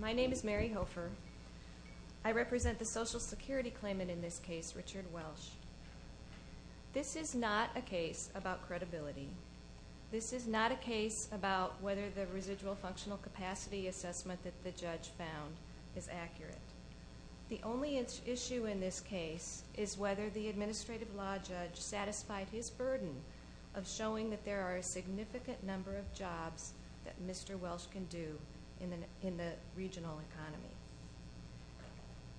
My name is Mary Hofer. I represent the Social Security claimant in this case, Richard Welsh. This is not a case about credibility. This is not a case about whether the residual functional capacity assessment that the judge found is accurate. The only issue in this case is whether the administrative law judge satisfied his burden of showing that there are a significant number of jobs that Mr. Welsh can do in the regional economy.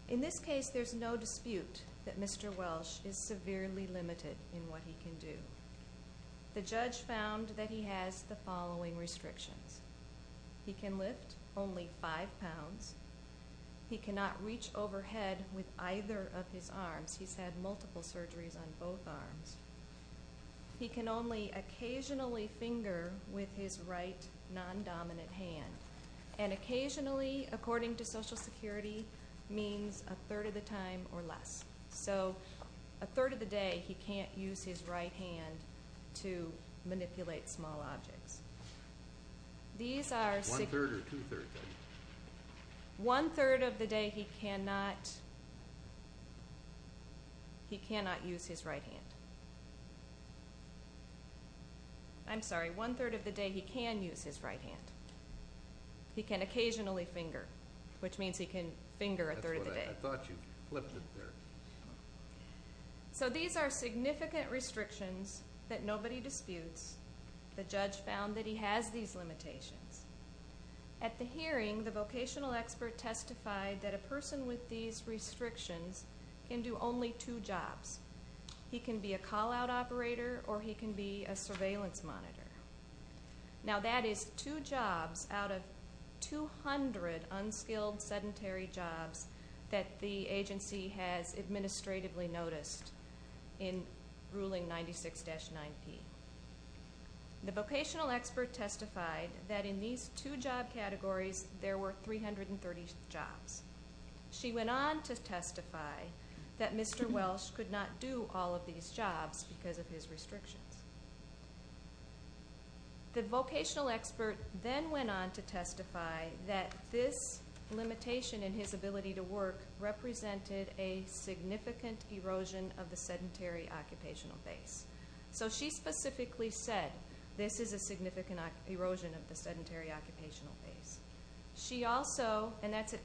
In this case, there is no dispute that Mr. Welsh is severely limited in what he can do. The judge found that he has the following restrictions. He can lift only 5 pounds. He cannot reach overhead with either of his arms. He's had multiple surgeries on both arms. He can only occasionally finger with his right, non-dominant hand. Occasionally, according to Social Security, means a third of the time or less. So a third of the day, he can't use his right hand to manipulate small objects. One third of the day, he cannot use his right hand. I'm sorry, one third of the day, he can use his right hand. He can occasionally finger, which means he can finger a third of the day. I thought you flipped it there. So these are significant restrictions that nobody disputes. The judge found that he has these limitations. At the hearing, the vocational expert testified that a person with these restrictions can do only two jobs. He can be a call-out operator or he can be a surveillance monitor. Now, that is two jobs out of 200 unskilled sedentary jobs that the agency has administratively noticed in Ruling 96-9P. The vocational expert testified that in these two job categories, there were 330 jobs. She went on to testify that Mr. Welsh could not do all of these jobs because of his restrictions. The vocational expert then went on to testify that this limitation in his ability to work represented a significant erosion of the sedentary occupational base. So she specifically said this is a significant erosion of the sedentary occupational base. She also, and that's at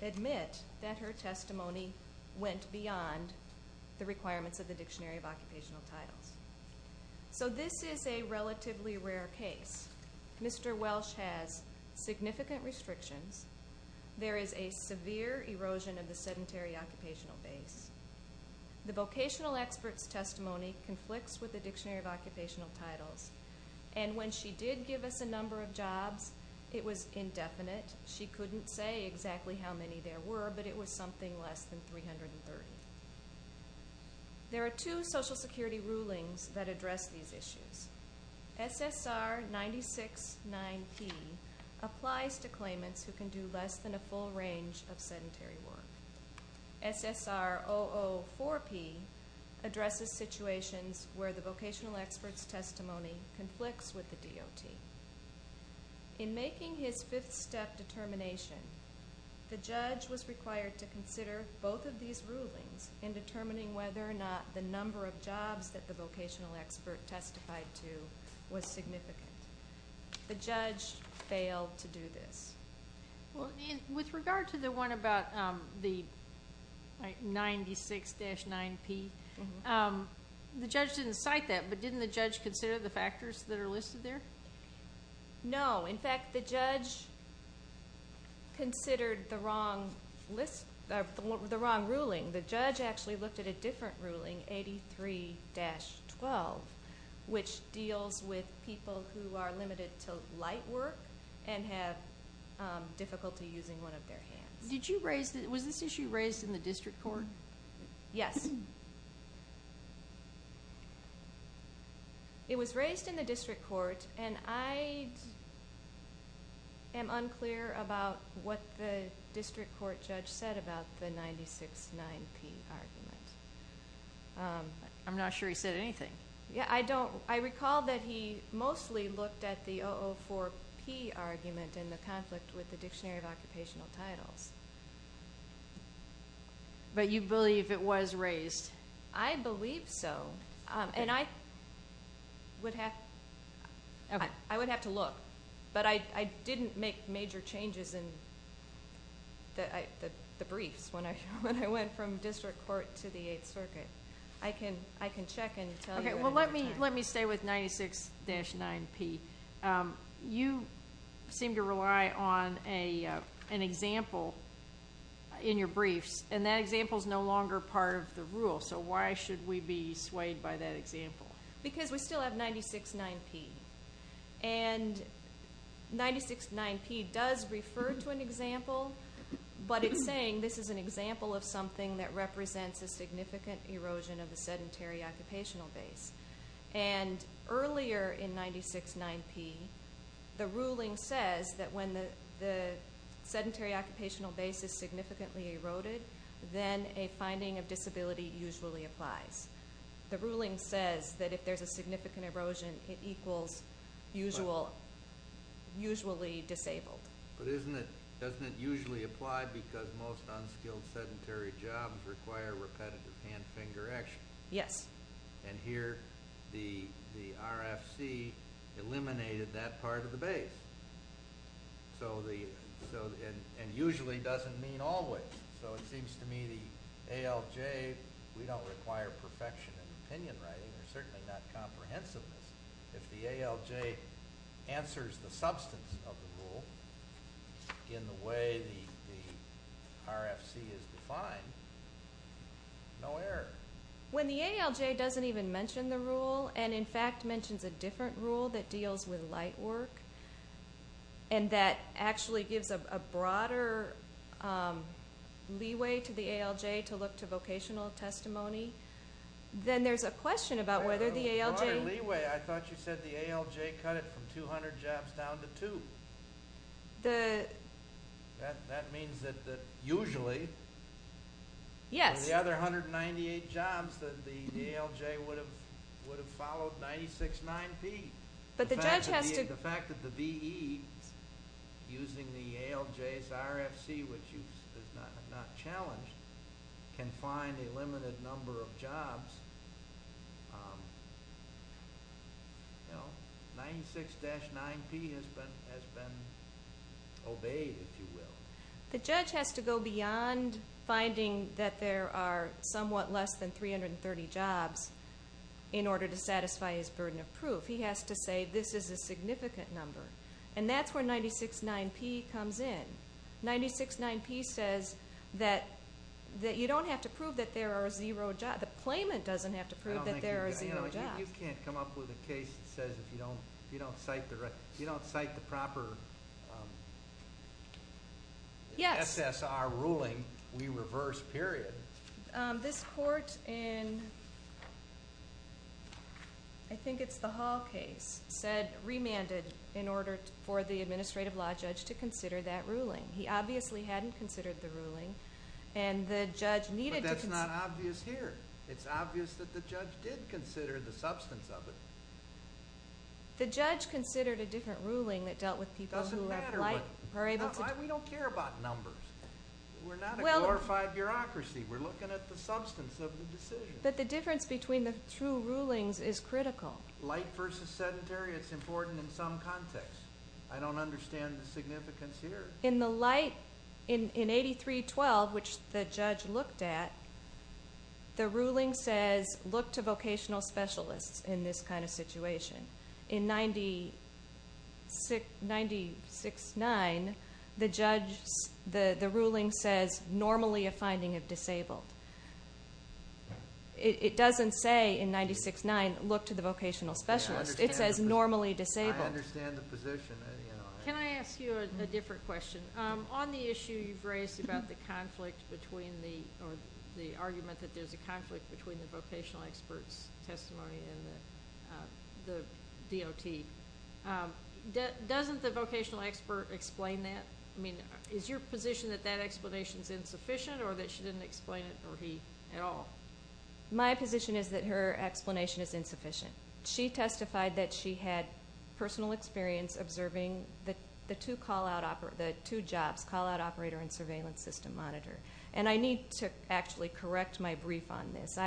it, that her testimony went beyond the requirements of the Dictionary of Occupational Titles. So this is a relatively rare case. Mr. Welsh has significant restrictions. There is a severe erosion of the sedentary occupational base. The vocational expert's testimony conflicts with the Dictionary of Occupational Titles. And when she did give us a number of jobs, it was indefinite. She couldn't say exactly how many there were, but it was something less than 330. There are two Social Security rulings that address these issues. SSR 96-9P applies to claimants who can do less than a full range of sedentary work. SSR 004P addresses situations where the vocational expert's testimony conflicts with the DOT. In making his fifth step determination, the judge was required to consider both of these rulings in determining whether or not the number of jobs that the vocational expert testified to was significant. The judge failed to do this. With regard to the one about the 96-9P, the judge didn't cite that, but didn't the judge consider the factors that are listed there? No. In fact, the judge considered the wrong ruling. The judge actually looked at a different ruling, 83-12, which deals with people who are limited to light work and have limited difficulty using one of their hands. Was this issue raised in the district court? Yes. It was raised in the district court, and I am unclear about what the district court judge said about the 96-9P argument. I'm not sure he said anything. I recall that he mostly looked at the 004P argument in the conflict with the Dictionary of Occupational Titles. You believe it was raised? I believe so. I would have to look, but I didn't make major changes in the briefs when I went from district court to the Eighth Circuit. I can check and tell you. Let me stay with 96-9P. You seem to rely on an example in your briefs, and that example is no longer part of the rule, so why should we be swayed by that example? Because we still have 96-9P. 96-9P does refer to an example, but it's saying this is an example of something that represents a significant erosion of the sedentary occupational base. Earlier in 96-9P, the ruling says that when the sedentary occupational base is significantly eroded, then a finding of disability usually applies. The ruling says that if there's a significant erosion, it equals usually disabled. But doesn't it usually apply because most unskilled sedentary jobs require repetitive hand-finger action? Yes. And here, the RFC eliminated that part of the base, and usually doesn't mean always. So it seems to me the ALJ, we don't require perfection in opinion writing, and certainly not comprehensiveness. If the ALJ answers the substance of the rule in the way the RFC is defined, no error. When the ALJ doesn't even mention the rule, and in fact mentions a different rule that deals with light work, and that actually gives a broader leeway to the ALJ to look to vocational testimony, then there's a question about whether the ALJ... A broader leeway. I thought you said the ALJ cut it from 200 jobs down to two. The... That means that usually... Yes. The other 198 jobs that the ALJ would have followed 96-9P. But the judge has to... The fact that the VE, using the ALJ's RFC, which is not challenged, can find a limited number of jobs, 96-9P has been obeyed, if you will. The judge has to go beyond finding that there are somewhat less than 330 jobs in order to find a significant number. And that's where 96-9P comes in. 96-9P says that you don't have to prove that there are zero jobs. The claimant doesn't have to prove that there are zero jobs. You can't come up with a case that says if you don't cite the proper SSR ruling, we reverse, period. This court in, I think it's the Hall case, said, remanded in order for the administrative law judge to consider that ruling. He obviously hadn't considered the ruling, and the judge needed to... But that's not obvious here. It's obvious that the judge did consider the substance of it. The judge considered a different ruling that dealt with people who were able to... It doesn't matter. We don't care about numbers. We're not a glorified bureaucracy. We're looking at the substance of the decision. But the difference between the two rulings is critical. Light versus sedentary, it's important in some context. I don't understand the significance here. In the light, in 83-12, which the judge looked at, the ruling says, look to vocational specialists in this kind of situation. In 96-9, the ruling says, normally a finding of disabled. It doesn't say in 96-9, look to the vocational specialist. It says normally disabled. I understand the position. Can I ask you a different question? On the issue you've raised about the conflict between or the argument that there's a conflict between the vocational expert's testimony and the DOT. Doesn't the vocational expert explain that? Is your position that that explanation is insufficient or that she didn't explain it at all? My position is that her explanation is insufficient. She testified that she had personal experience observing the two jobs, call out operator and surveillance system monitor. I need to actually correct my brief on this.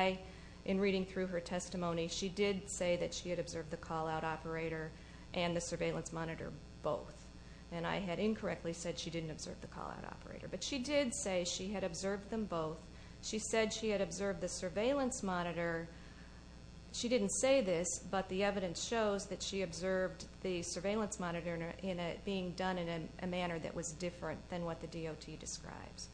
In reading through her testimony, she did say that she had observed the call out operator and the surveillance monitor both. I had incorrectly said she didn't observe the call out operator. She did say she had observed them both. She said she had observed the surveillance monitor. She didn't say this, but the evidence shows that she observed the surveillance monitor being done in a manner that was different than what the DOT describes.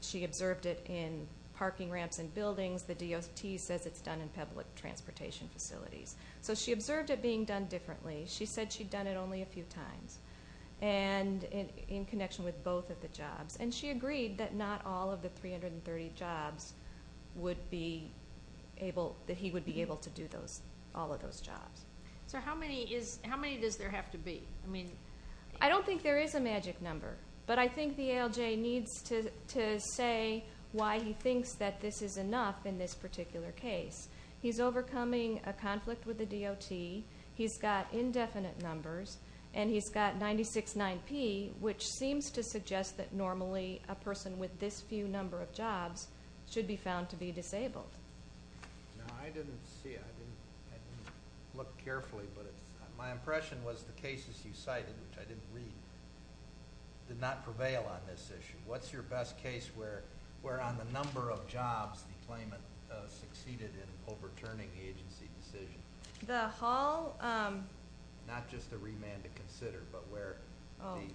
She observed it in parking ramps and buildings. The DOT says it's done in public transportation facilities. She observed it being done differently. She said she'd done it only a few times in connection with both of the jobs. She agreed that not all of the 330 jobs would be able, that he would be able to do all of those jobs. How many does there have to be? I don't think there is a magic number. But I think the ALJ needs to say why he thinks that this is enough in this particular case. He's overcoming a conflict with the DOT. He's got indefinite numbers. And he's got 96-9P, which seems to suggest that normally a person with this few number of jobs should be found to be disabled. No, I didn't see it. I didn't look carefully. But my impression was the cases you cited, which I didn't read, did not prevail on this issue. What's your best case where, on the number of jobs, the claimant succeeded in overturning the agency's decision? The Hall? Not just the remand to consider, but where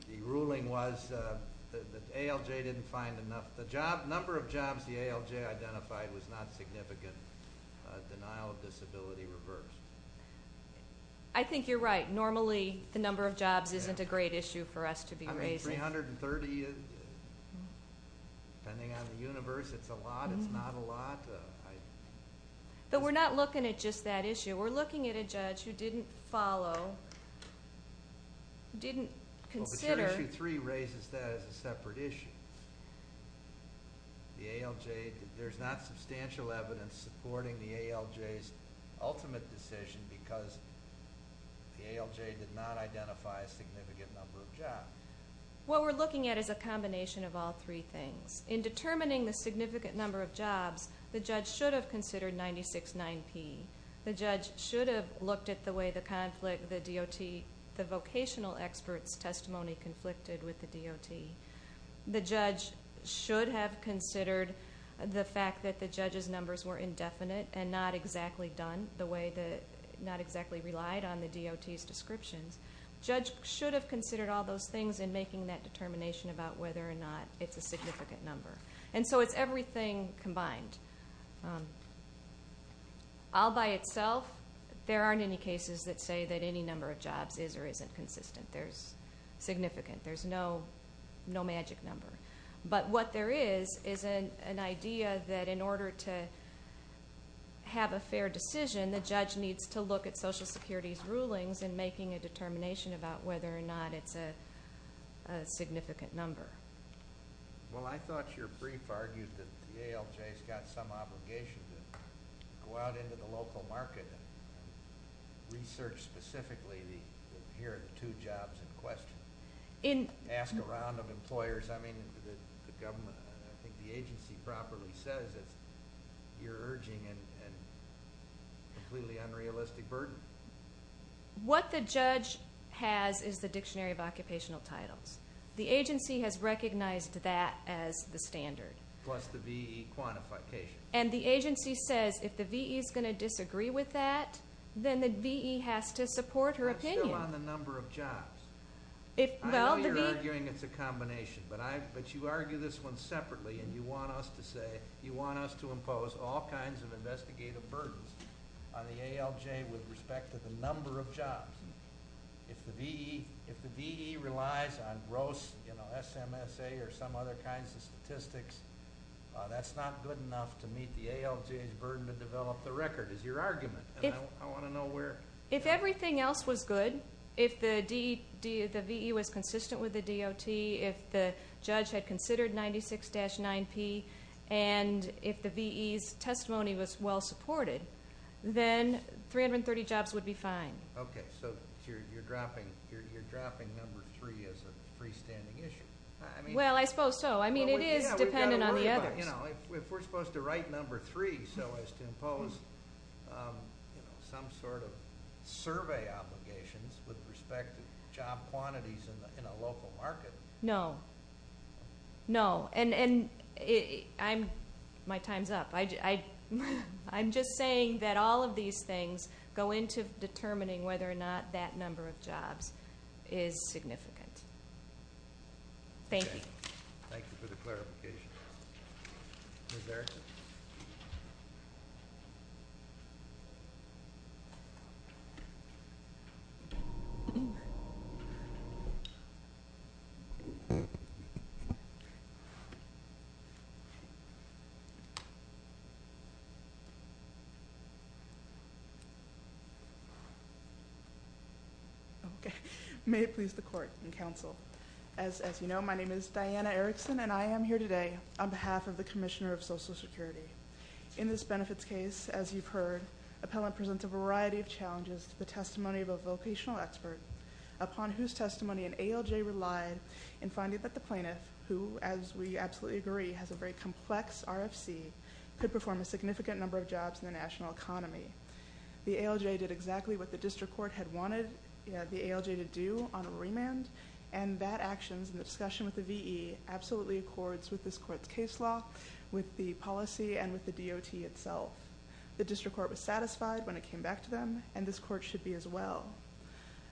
the ruling was that the ALJ didn't find enough. The number of jobs the ALJ identified was not significant. Denial of disability reversed. I think you're right. Normally, the number of jobs isn't a great issue for us to be raising. I mean, 330, depending on the universe, it's a lot, it's not a lot. But we're not looking at just that issue. We're looking at a judge who didn't follow, didn't consider. But your issue 3 raises that as a separate issue. The ALJ, there's not substantial evidence supporting the ALJ's ultimate decision because the ALJ did not identify a significant number of jobs. What we're looking at is a combination of all three things. In determining the significant number of jobs, the judge should have considered 96-9P. The judge should have looked at the way the conflict, the DOT, the vocational expert's testimony conflicted with the DOT. The judge should have considered the fact that the judge's numbers were indefinite and not exactly done the way, not exactly relied on the DOT's descriptions. Judge should have considered all those things in making that determination about whether or not it's a significant number. And so it's everything combined. All by itself, there aren't any cases that say that any number of jobs is or isn't consistent. There's significant, there's no magic number. But what there is, is an idea that in order to have a fair decision, the judge needs to look at Social Security's rulings in making a determination about whether or not it's a significant number. Well, I thought your brief argued that the ALJ's got some obligation to go out into the local market and research specifically the here are the two jobs in question. Ask around of employers, I mean, the government, I think the agency properly says that you're urging a completely unrealistic burden. What the judge has is the Dictionary of Occupational Titles. The agency has recognized that as the standard. Plus the VE quantification. And the agency says if the VE's going to disagree with that, then the VE has to support her opinion. But still on the number of jobs. I know you're arguing it's a combination, but you argue this one separately and you want us to say, you want us to impose all kinds of investigative burdens on the ALJ with respect to the number of jobs. If the VE relies on gross SMSA or some other kinds of statistics, that's not good enough to meet the ALJ's burden to develop the record, is your argument. I want to know where... If everything else was good, if the VE was consistent with the DOT, if the judge had considered 96-9P, and if the VE's testimony was well supported, then 330 jobs would be fine. Okay, so you're dropping number three as a freestanding issue. Well, I suppose so. It is dependent on the others. If we're supposed to write number three so as to impose some sort of survey obligations with respect to job quantities in a local market... No. No. My time's up. I'm just saying that all of these things go into determining whether or not that number of jobs is significant. Thank you. Thank you for the clarification. Ms. Erickson? Okay. May it please the court and counsel. As you know, my name is Diana Erickson, and I am here today on behalf of the Commissioner of Social Security. In this benefits case, as you've heard, appellant presents a variety of challenges to the testimony of a vocational expert upon whose testimony an ALJ relied in finding that the plaintiff, who, as we absolutely agree, has a very complex RFC, could perform a significant number of jobs in the national economy. The ALJ did exactly what the district court had wanted the ALJ to do on a remand, and that action, in discussion with the VE, absolutely accords with this court's case law, with the policy, and with the DOT itself. The district court was satisfied when it came back to them, and this court should be as well.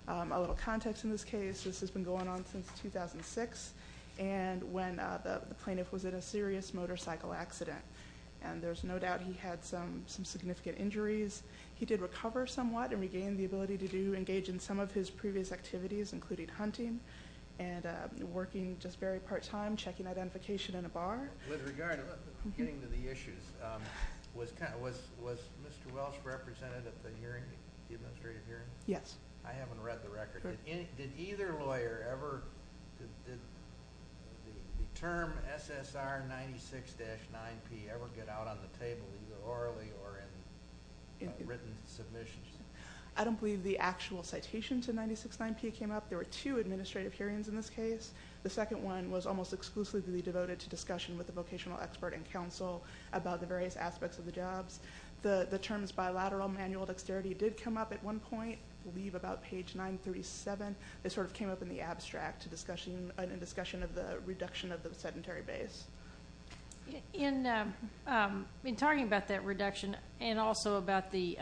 A little context in this case, this has been going on since 2006, and when the plaintiff was in a serious motorcycle accident, and there's no doubt he had some significant injuries. He did recover somewhat, and regained the ability to do, engage in some of his previous activities, including hunting, and working just very part-time, checking identification in a bar. With regard, getting to the issues, was Mr. Welsh represented at the hearing, the administrative hearing? Yes. I haven't read the record. Did either lawyer ever, did the term SSR 96-9P ever get out on the table, either orally or in written submissions? I don't believe the actual citation to 96-9P came up. There were two administrative hearings in this case. The second one was almost exclusively devoted to discussion with the vocational expert and counsel about the various aspects of the jobs. The terms bilateral manual dexterity did come up at one point, I believe about page 937. It sort of came up in the abstract, in discussion of the reduction of the sedentary base. In talking about that reduction, and also about the,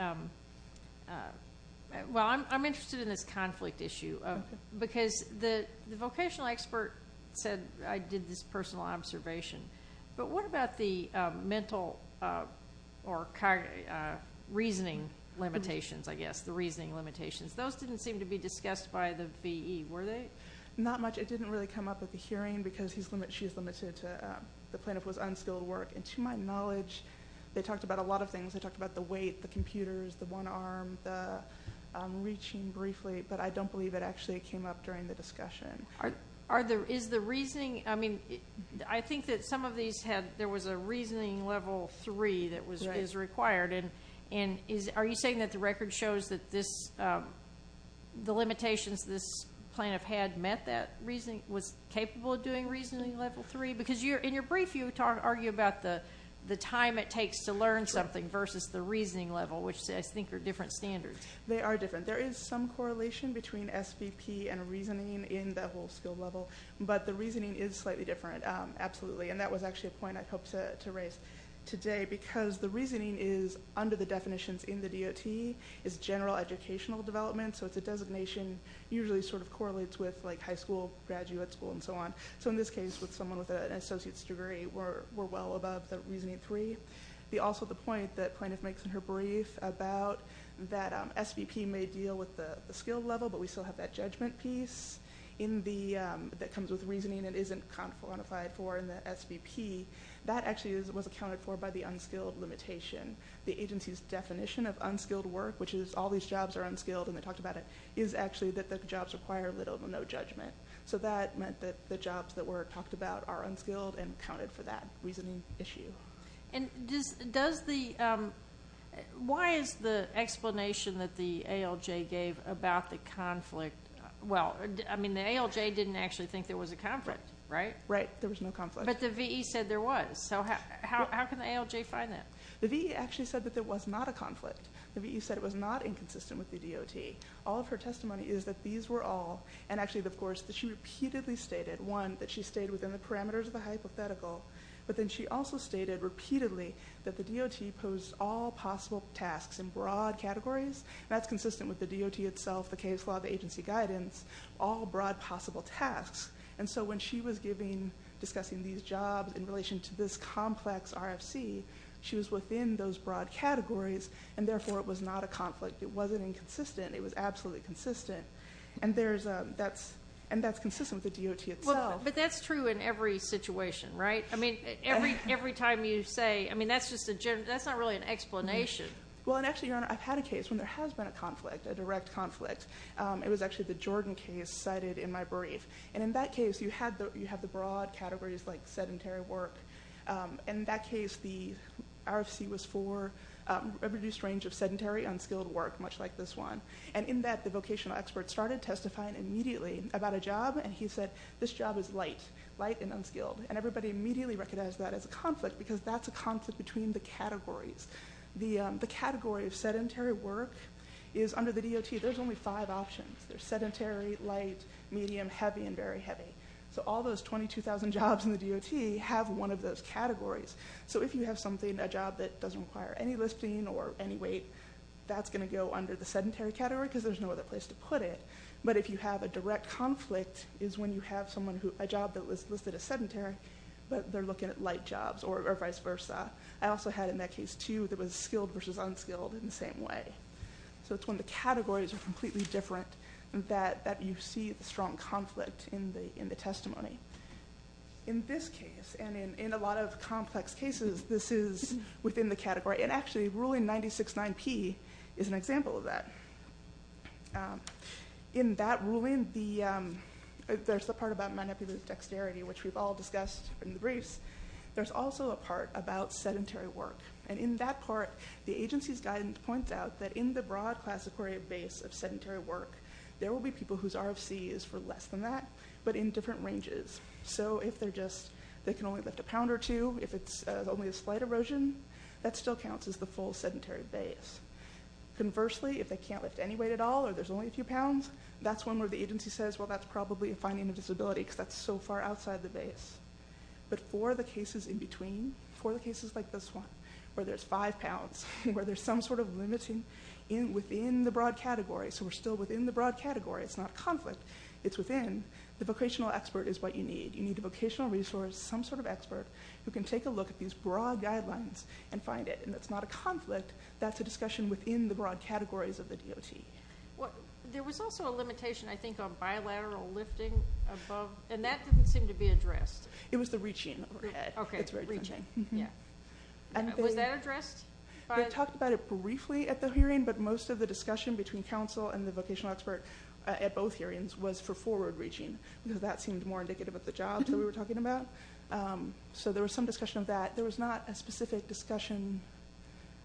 well, I'm interested in this conflict issue, because the vocational expert said, I did this personal observation, but what about the mental or reasoning limitations, I guess, the reasoning limitations? Those didn't seem to be discussed by the VE. Were they? Not much. It didn't really come up at the hearing, because she's limited to the plaintiff was unskilled at work. And to my knowledge, they talked about a lot of things. They talked about the weight, the computers, the one arm, the reaching briefly, but I don't believe it actually came up during the discussion. Is the reasoning, I mean, I think that some of these had, there was a reasoning level three that is required. And are you saying that the record shows that this, the limitations this plaintiff had met that reasoning, was capable of doing reasoning level three? Because in your brief, you argue about the time it takes to learn something versus the reasoning level, which I think are different standards. They are different. There is some correlation between SVP and reasoning in the whole skill level, but the reasoning is slightly different, absolutely. And that was actually a point I hoped to raise today, because the reasoning is under the definitions in the DOT, is general educational development. So it's a designation, usually sort of correlates with like high school, graduate school, and so on. So in this case, with someone with an associate's degree, we're well above the reasoning three. Also the point that plaintiff makes in her brief about that SVP may deal with the skill level, but we still have that judgment piece in the, that comes with reasoning and isn't quantified for in the SVP. That actually was accounted for by the unskilled limitation. The agency's definition of unskilled work, which is all these jobs are unskilled, and they talked about it, is actually that the jobs require little to no judgment. So that meant that the jobs that were talked about are unskilled and accounted for that reasoning issue. And does the, why is the explanation that the ALJ gave about the conflict, well, I mean the ALJ didn't actually think there was a conflict, right? Right, there was no conflict. But the VE said there was, so how can the ALJ find that? The VE actually said that there was not a conflict. The VE said it was not inconsistent with the DOT. All of her testimony is that these were all, and actually, of course, that she repeatedly stated, one, that she stayed within the parameters of the hypothetical, but then she also stated repeatedly that the DOT posed all possible tasks in broad categories, and that's consistent with the DOT itself, the case law, the agency guidance, all broad possible tasks. And so when she was giving, discussing these jobs in relation to this complex RFC, she was within those broad categories, and therefore it was not a conflict. It wasn't inconsistent. It was absolutely consistent. And there's, that's, and that's consistent with the DOT itself. Well, but that's true in every situation, right? I mean, every time you say, I mean, that's just a general, that's not really an explanation. Well, and actually, Your Honor, I've had a case when there has been a conflict, a direct conflict. It was actually the Jordan case cited in my brief. And in that case, you had the broad categories like sedentary work. In that case, the RFC was for a reduced range of sedentary, unskilled work, much like this one. And in that, the vocational expert started testifying immediately about a job, and he said, this job is light, light and unskilled. And everybody immediately recognized that as a conflict, because that's a conflict between the categories. The category of sedentary work is, under the DOT, there's only five options. There's sedentary, light, medium, heavy, and very heavy. So all those 22,000 jobs in the DOT have one of those categories. So if you have something, a job that doesn't require any listing or any weight, that's going to go under the sedentary category, because there's no other place to put it. But if you have a direct conflict, is when you have someone who, a job that was listed as sedentary, but they're looking at light jobs, or vice versa. I also had in that case, too, that was skilled versus unskilled in the same way. So it's when the categories are completely different that you see the strong conflict in the testimony. In this case, and in a lot of complex cases, this is within the category. And actually, ruling 96-9P is an example of that. In that ruling, there's the part about manipulative dexterity, which we've all discussed in the briefs. There's also a part about sedentary work. And in that part, the agency's guidance points out that in the broad classifier base of sedentary work, there will be people whose RFC is for less than that, but in different ranges. So if they're just, they can only lift a pound or two, if it's only a slight erosion, that still counts as the full sedentary base. Conversely, if they can't lift any weight at all, or there's only a few pounds, that's one where the agency says, well, that's probably a finding of disability, because that's so far outside the base. But for the cases in between, for the cases like this one, where there's five pounds, where there's some sort of limiting within the broad category, so we're still within the broad category, it's not conflict, it's within, the vocational expert is what you need. You need a vocational resource, some sort of expert, who can take a look at these broad guidelines and find it. And it's not a conflict, that's a discussion within the broad categories of the DOT. There was also a limitation, I think, on bilateral lifting above, and that didn't seem to be addressed. It was the reaching overhead. Okay, reaching, yeah. Was that addressed? They talked about it briefly at the hearing, but most of the discussion between counsel and the vocational expert at both hearings was for forward reaching, because that seemed more indicative of the jobs that we were talking about. So there was some discussion of that. There was not a specific discussion,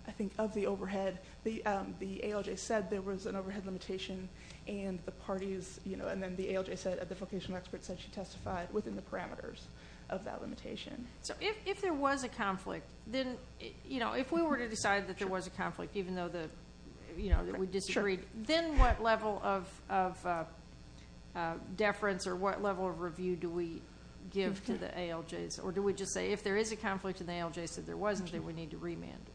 I think, of the overhead. The ALJ said there was an overhead limitation, and the parties, and then the ALJ said, the vocational expert said she testified within the parameters of that limitation. So if there was a conflict, then, you know, if we were to decide that there was a conflict, even though we disagreed, then what level of deference or what level of review do we give to the ALJs? Or do we just say, if there is a conflict and the ALJ said there wasn't, then we need to remand it?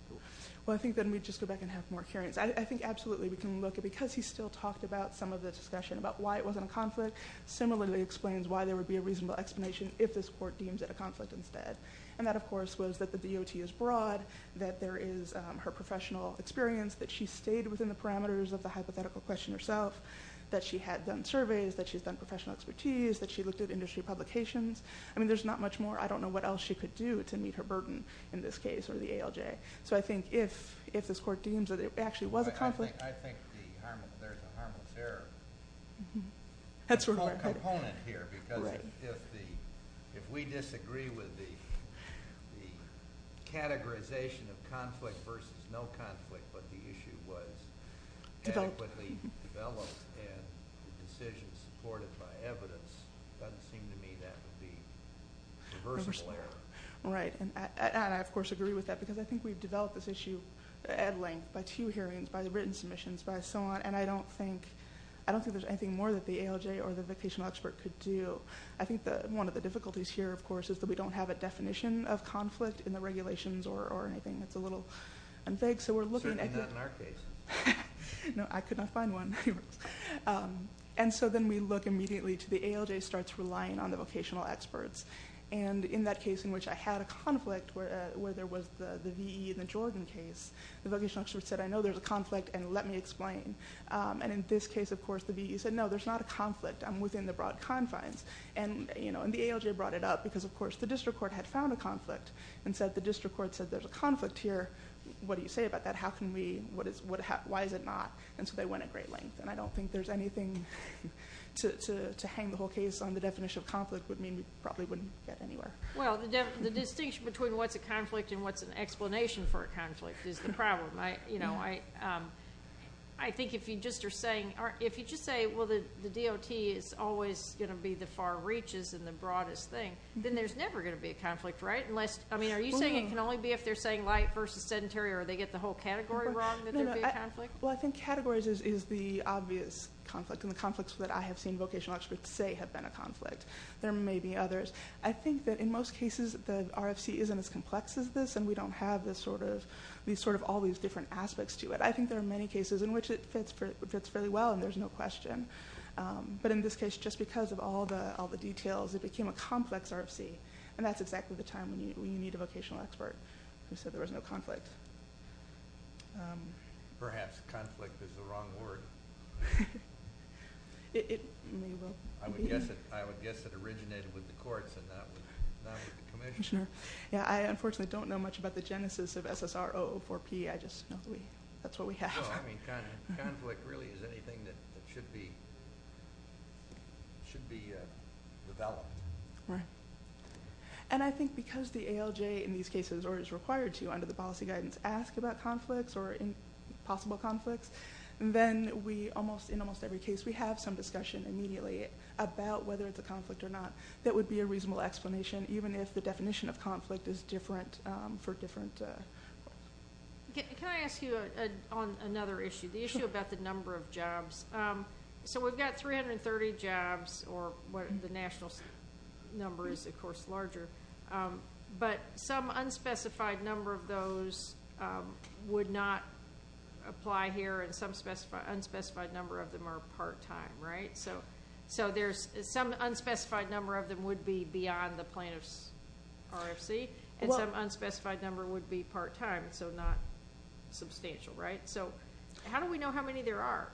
Well, I think, let me just go back and have more hearings. I think, absolutely, we can look, because he still talked about some of the discussion about why it wasn't a conflict, similarly explains why there would be a reasonable explanation if this court deems it a conflict instead. And that, of course, was that the DOT is broad, that there is her professional experience, that she stayed within the parameters of the hypothetical question herself, that she had done surveys, that she's done professional expertise, that she looked at industry publications. I mean, there's not much more. I don't know what else she could do to meet her burden in this case or the ALJ. So I think if this court deems that it actually was a conflict... I think there's a harmless error component here, because if we disagree with the categorization of conflict versus no conflict, but the issue was adequately developed and the decision supported by evidence, it doesn't seem to me that would be a reversible error. Right. And I, of course, agree with that, because I think we've developed this issue at length by two hearings, by written submissions, by so on, and I don't think there's anything more that the ALJ or the vocational expert could do. I think one of the difficulties here, of course, is that we don't have a definition of conflict in the regulations or anything. It's a little... Certainly not in our case. No, I could not find one. And so then we look immediately to the ALJ starts relying on the vocational experts. And in that case in which I had a conflict where there was the VE in the Jordan case, the vocational expert said, I know there's a conflict, and let me explain. And in this case, of course, the VE said, no, there's not a conflict. I'm within the broad confines. And the ALJ brought it up, because, of course, the district court had found a conflict and said, the district court said, there's a conflict here. What do you say about that? Why is it not? And so they went at great length. And I don't think there's anything to hang the whole case on the definition of conflict would mean we probably wouldn't get anywhere. Well, the distinction between what's a conflict and what's an explanation for a conflict is the problem. I think if you just are saying... If you just say, well, the DOT is always going to be the far reaches and the broadest thing, then there's never going to be a conflict, right? Are you saying it can only be if they're saying light versus sedentary, or they get the whole category wrong that there'd be a conflict? Well, I think categories is the obvious conflict. And the conflicts that I have seen vocational experts say have been a conflict. There may be others. I think that in most cases the RFC isn't as complex as this and we don't have all these different aspects to it. I think there are many cases in which it fits fairly well and there's no question. But in this case, just because of all the details, it became a complex RFC. And that's exactly the time when you need a vocational expert who said there was no conflict. Perhaps conflict is the wrong word. It may well be. I would guess it originated with the courts and not with the commissioner. I unfortunately don't know much about the genesis of SSR 004P. That's what we have. Conflict really is anything that should be developed. Right. And I think because the ALJ in these cases or is required to under the policy guidance ask about conflicts or possible conflicts, then in almost every case we have some discussion immediately about whether it's a conflict or not. That would be a reasonable explanation even if the definition of conflict is different for different... Can I ask you on another issue? The issue about the number of jobs. So we've got 330 jobs or the national number is of course larger, but some unspecified number of those would not apply here and some unspecified number of them are part-time, right? So there's some unspecified number of them would be beyond the plaintiff's RFC and some unspecified number would be part-time, so not substantial, right? How do we know how many there are?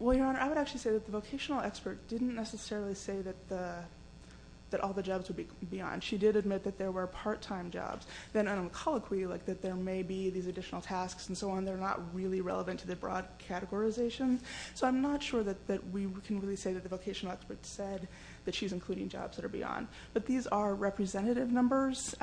Well, Your Honor, I would actually say that the vocational expert didn't necessarily say that all the jobs would be beyond. She did admit that there were part-time jobs. Then on the colloquy, like that there may be these additional tasks and so on, they're not really relevant to the broad categorization. So I'm not sure that we can really say that the vocational expert said that she's including jobs that are beyond. But these are representative numbers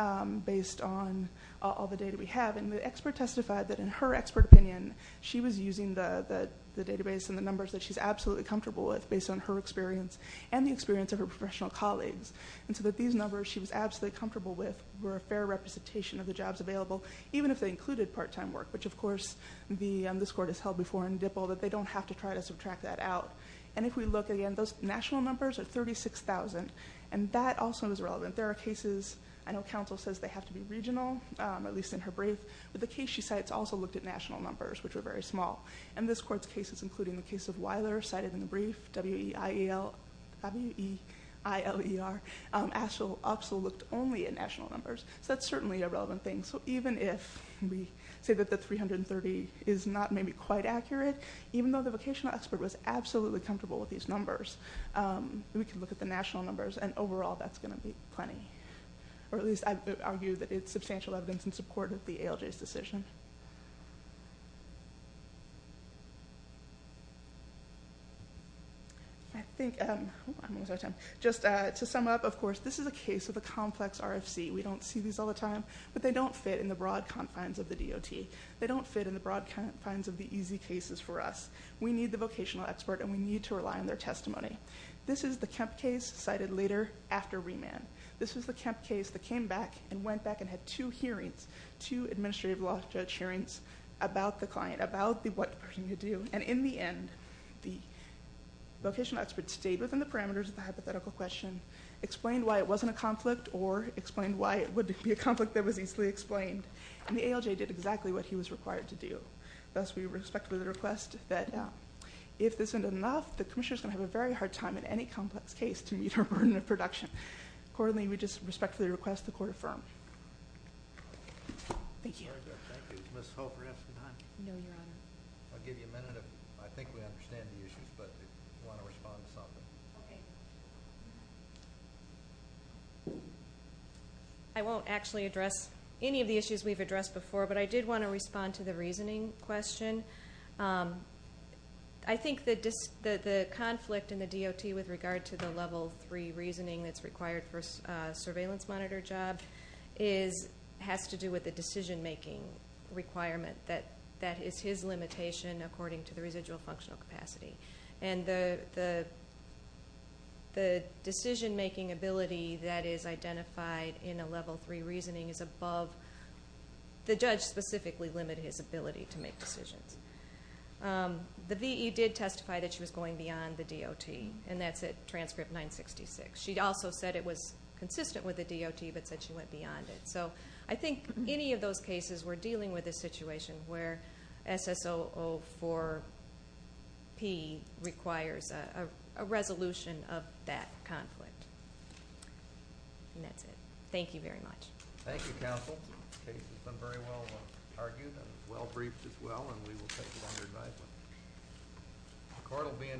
based on all the data we have and the expert testified that in her expert opinion, she was using the database and the numbers that she's absolutely comfortable with based on her experience and the experience of her professional colleagues and so that these numbers she was absolutely comfortable with were a fair representation of the jobs available, even if they included part-time work, which of course this Court has held before in DIPL that they don't have to try to subtract that out. And if we look again, those national numbers are 36,000, and that also is relevant. There are cases, I know counsel says they have to be regional, at least in her brief, but the case she cites also looked at national numbers, which are very small. And this Court's cases, including the case of Weiler, cited in the brief, W-E-I-E-L W-E-I-L-E-R, also looked only at national numbers. So that's certainly a relevant thing. So even if we say that the 330 is not maybe quite accurate, even though the vocational expert was absolutely comfortable with these numbers, we can look at the national numbers and overall that's going to be plenty. Or at least I'd argue that it's substantial evidence in support of the ALJ's decision. I think, just to sum up, of course, this is a case of a complex RFC. We don't see these all the time, but they don't fit in the broad confines of the DOT. They don't fit in the broad confines of the easy cases for us. We need the vocational expert, and we need to rely on their testimony. This is the Kemp case cited later after remand. This was the Kemp case that came back and went back and had two hearings, two administrative law judge hearings about the client, about what they were going to do, and in the end, the vocational expert stayed within the parameters of the hypothetical question, explained why it wasn't a conflict, or explained why it would be a conflict that was easily explained. And the ALJ did exactly what he was required to do. Thus, we respectfully request that if this isn't enough, the commissioner's going to have a very hard time in any complex case to meet our burden of production. Accordingly, we just respectfully request the court affirm. Thank you. Ms. Hope, we're out of time. No, Your Honor. I'll give you a minute. I think we understand the issues, but if you want to respond to something. Okay. I won't actually address any of the issues we've addressed before, but I did want to respond to the reasoning question. I think the conflict in the DOT with regard to the level 3 reasoning that's required for a surveillance monitor job has to do with the decision making requirement. That is his limitation according to the residual functional capacity. And the decision making ability that is identified in a level 3 reasoning is above the judge specifically limited his ability to make decisions. The V.E. did testify that she was going beyond the DOT. And that's at transcript 966. She also said it was consistent with the DOT, but said she went beyond it. So I think any of those cases we're dealing with a situation where SS004P requires a resolution of that conflict. And that's it. Thank you very much. Thank you counsel. The case has been very well argued and well briefed as well. And we will take it under advisement. The court will be in recess.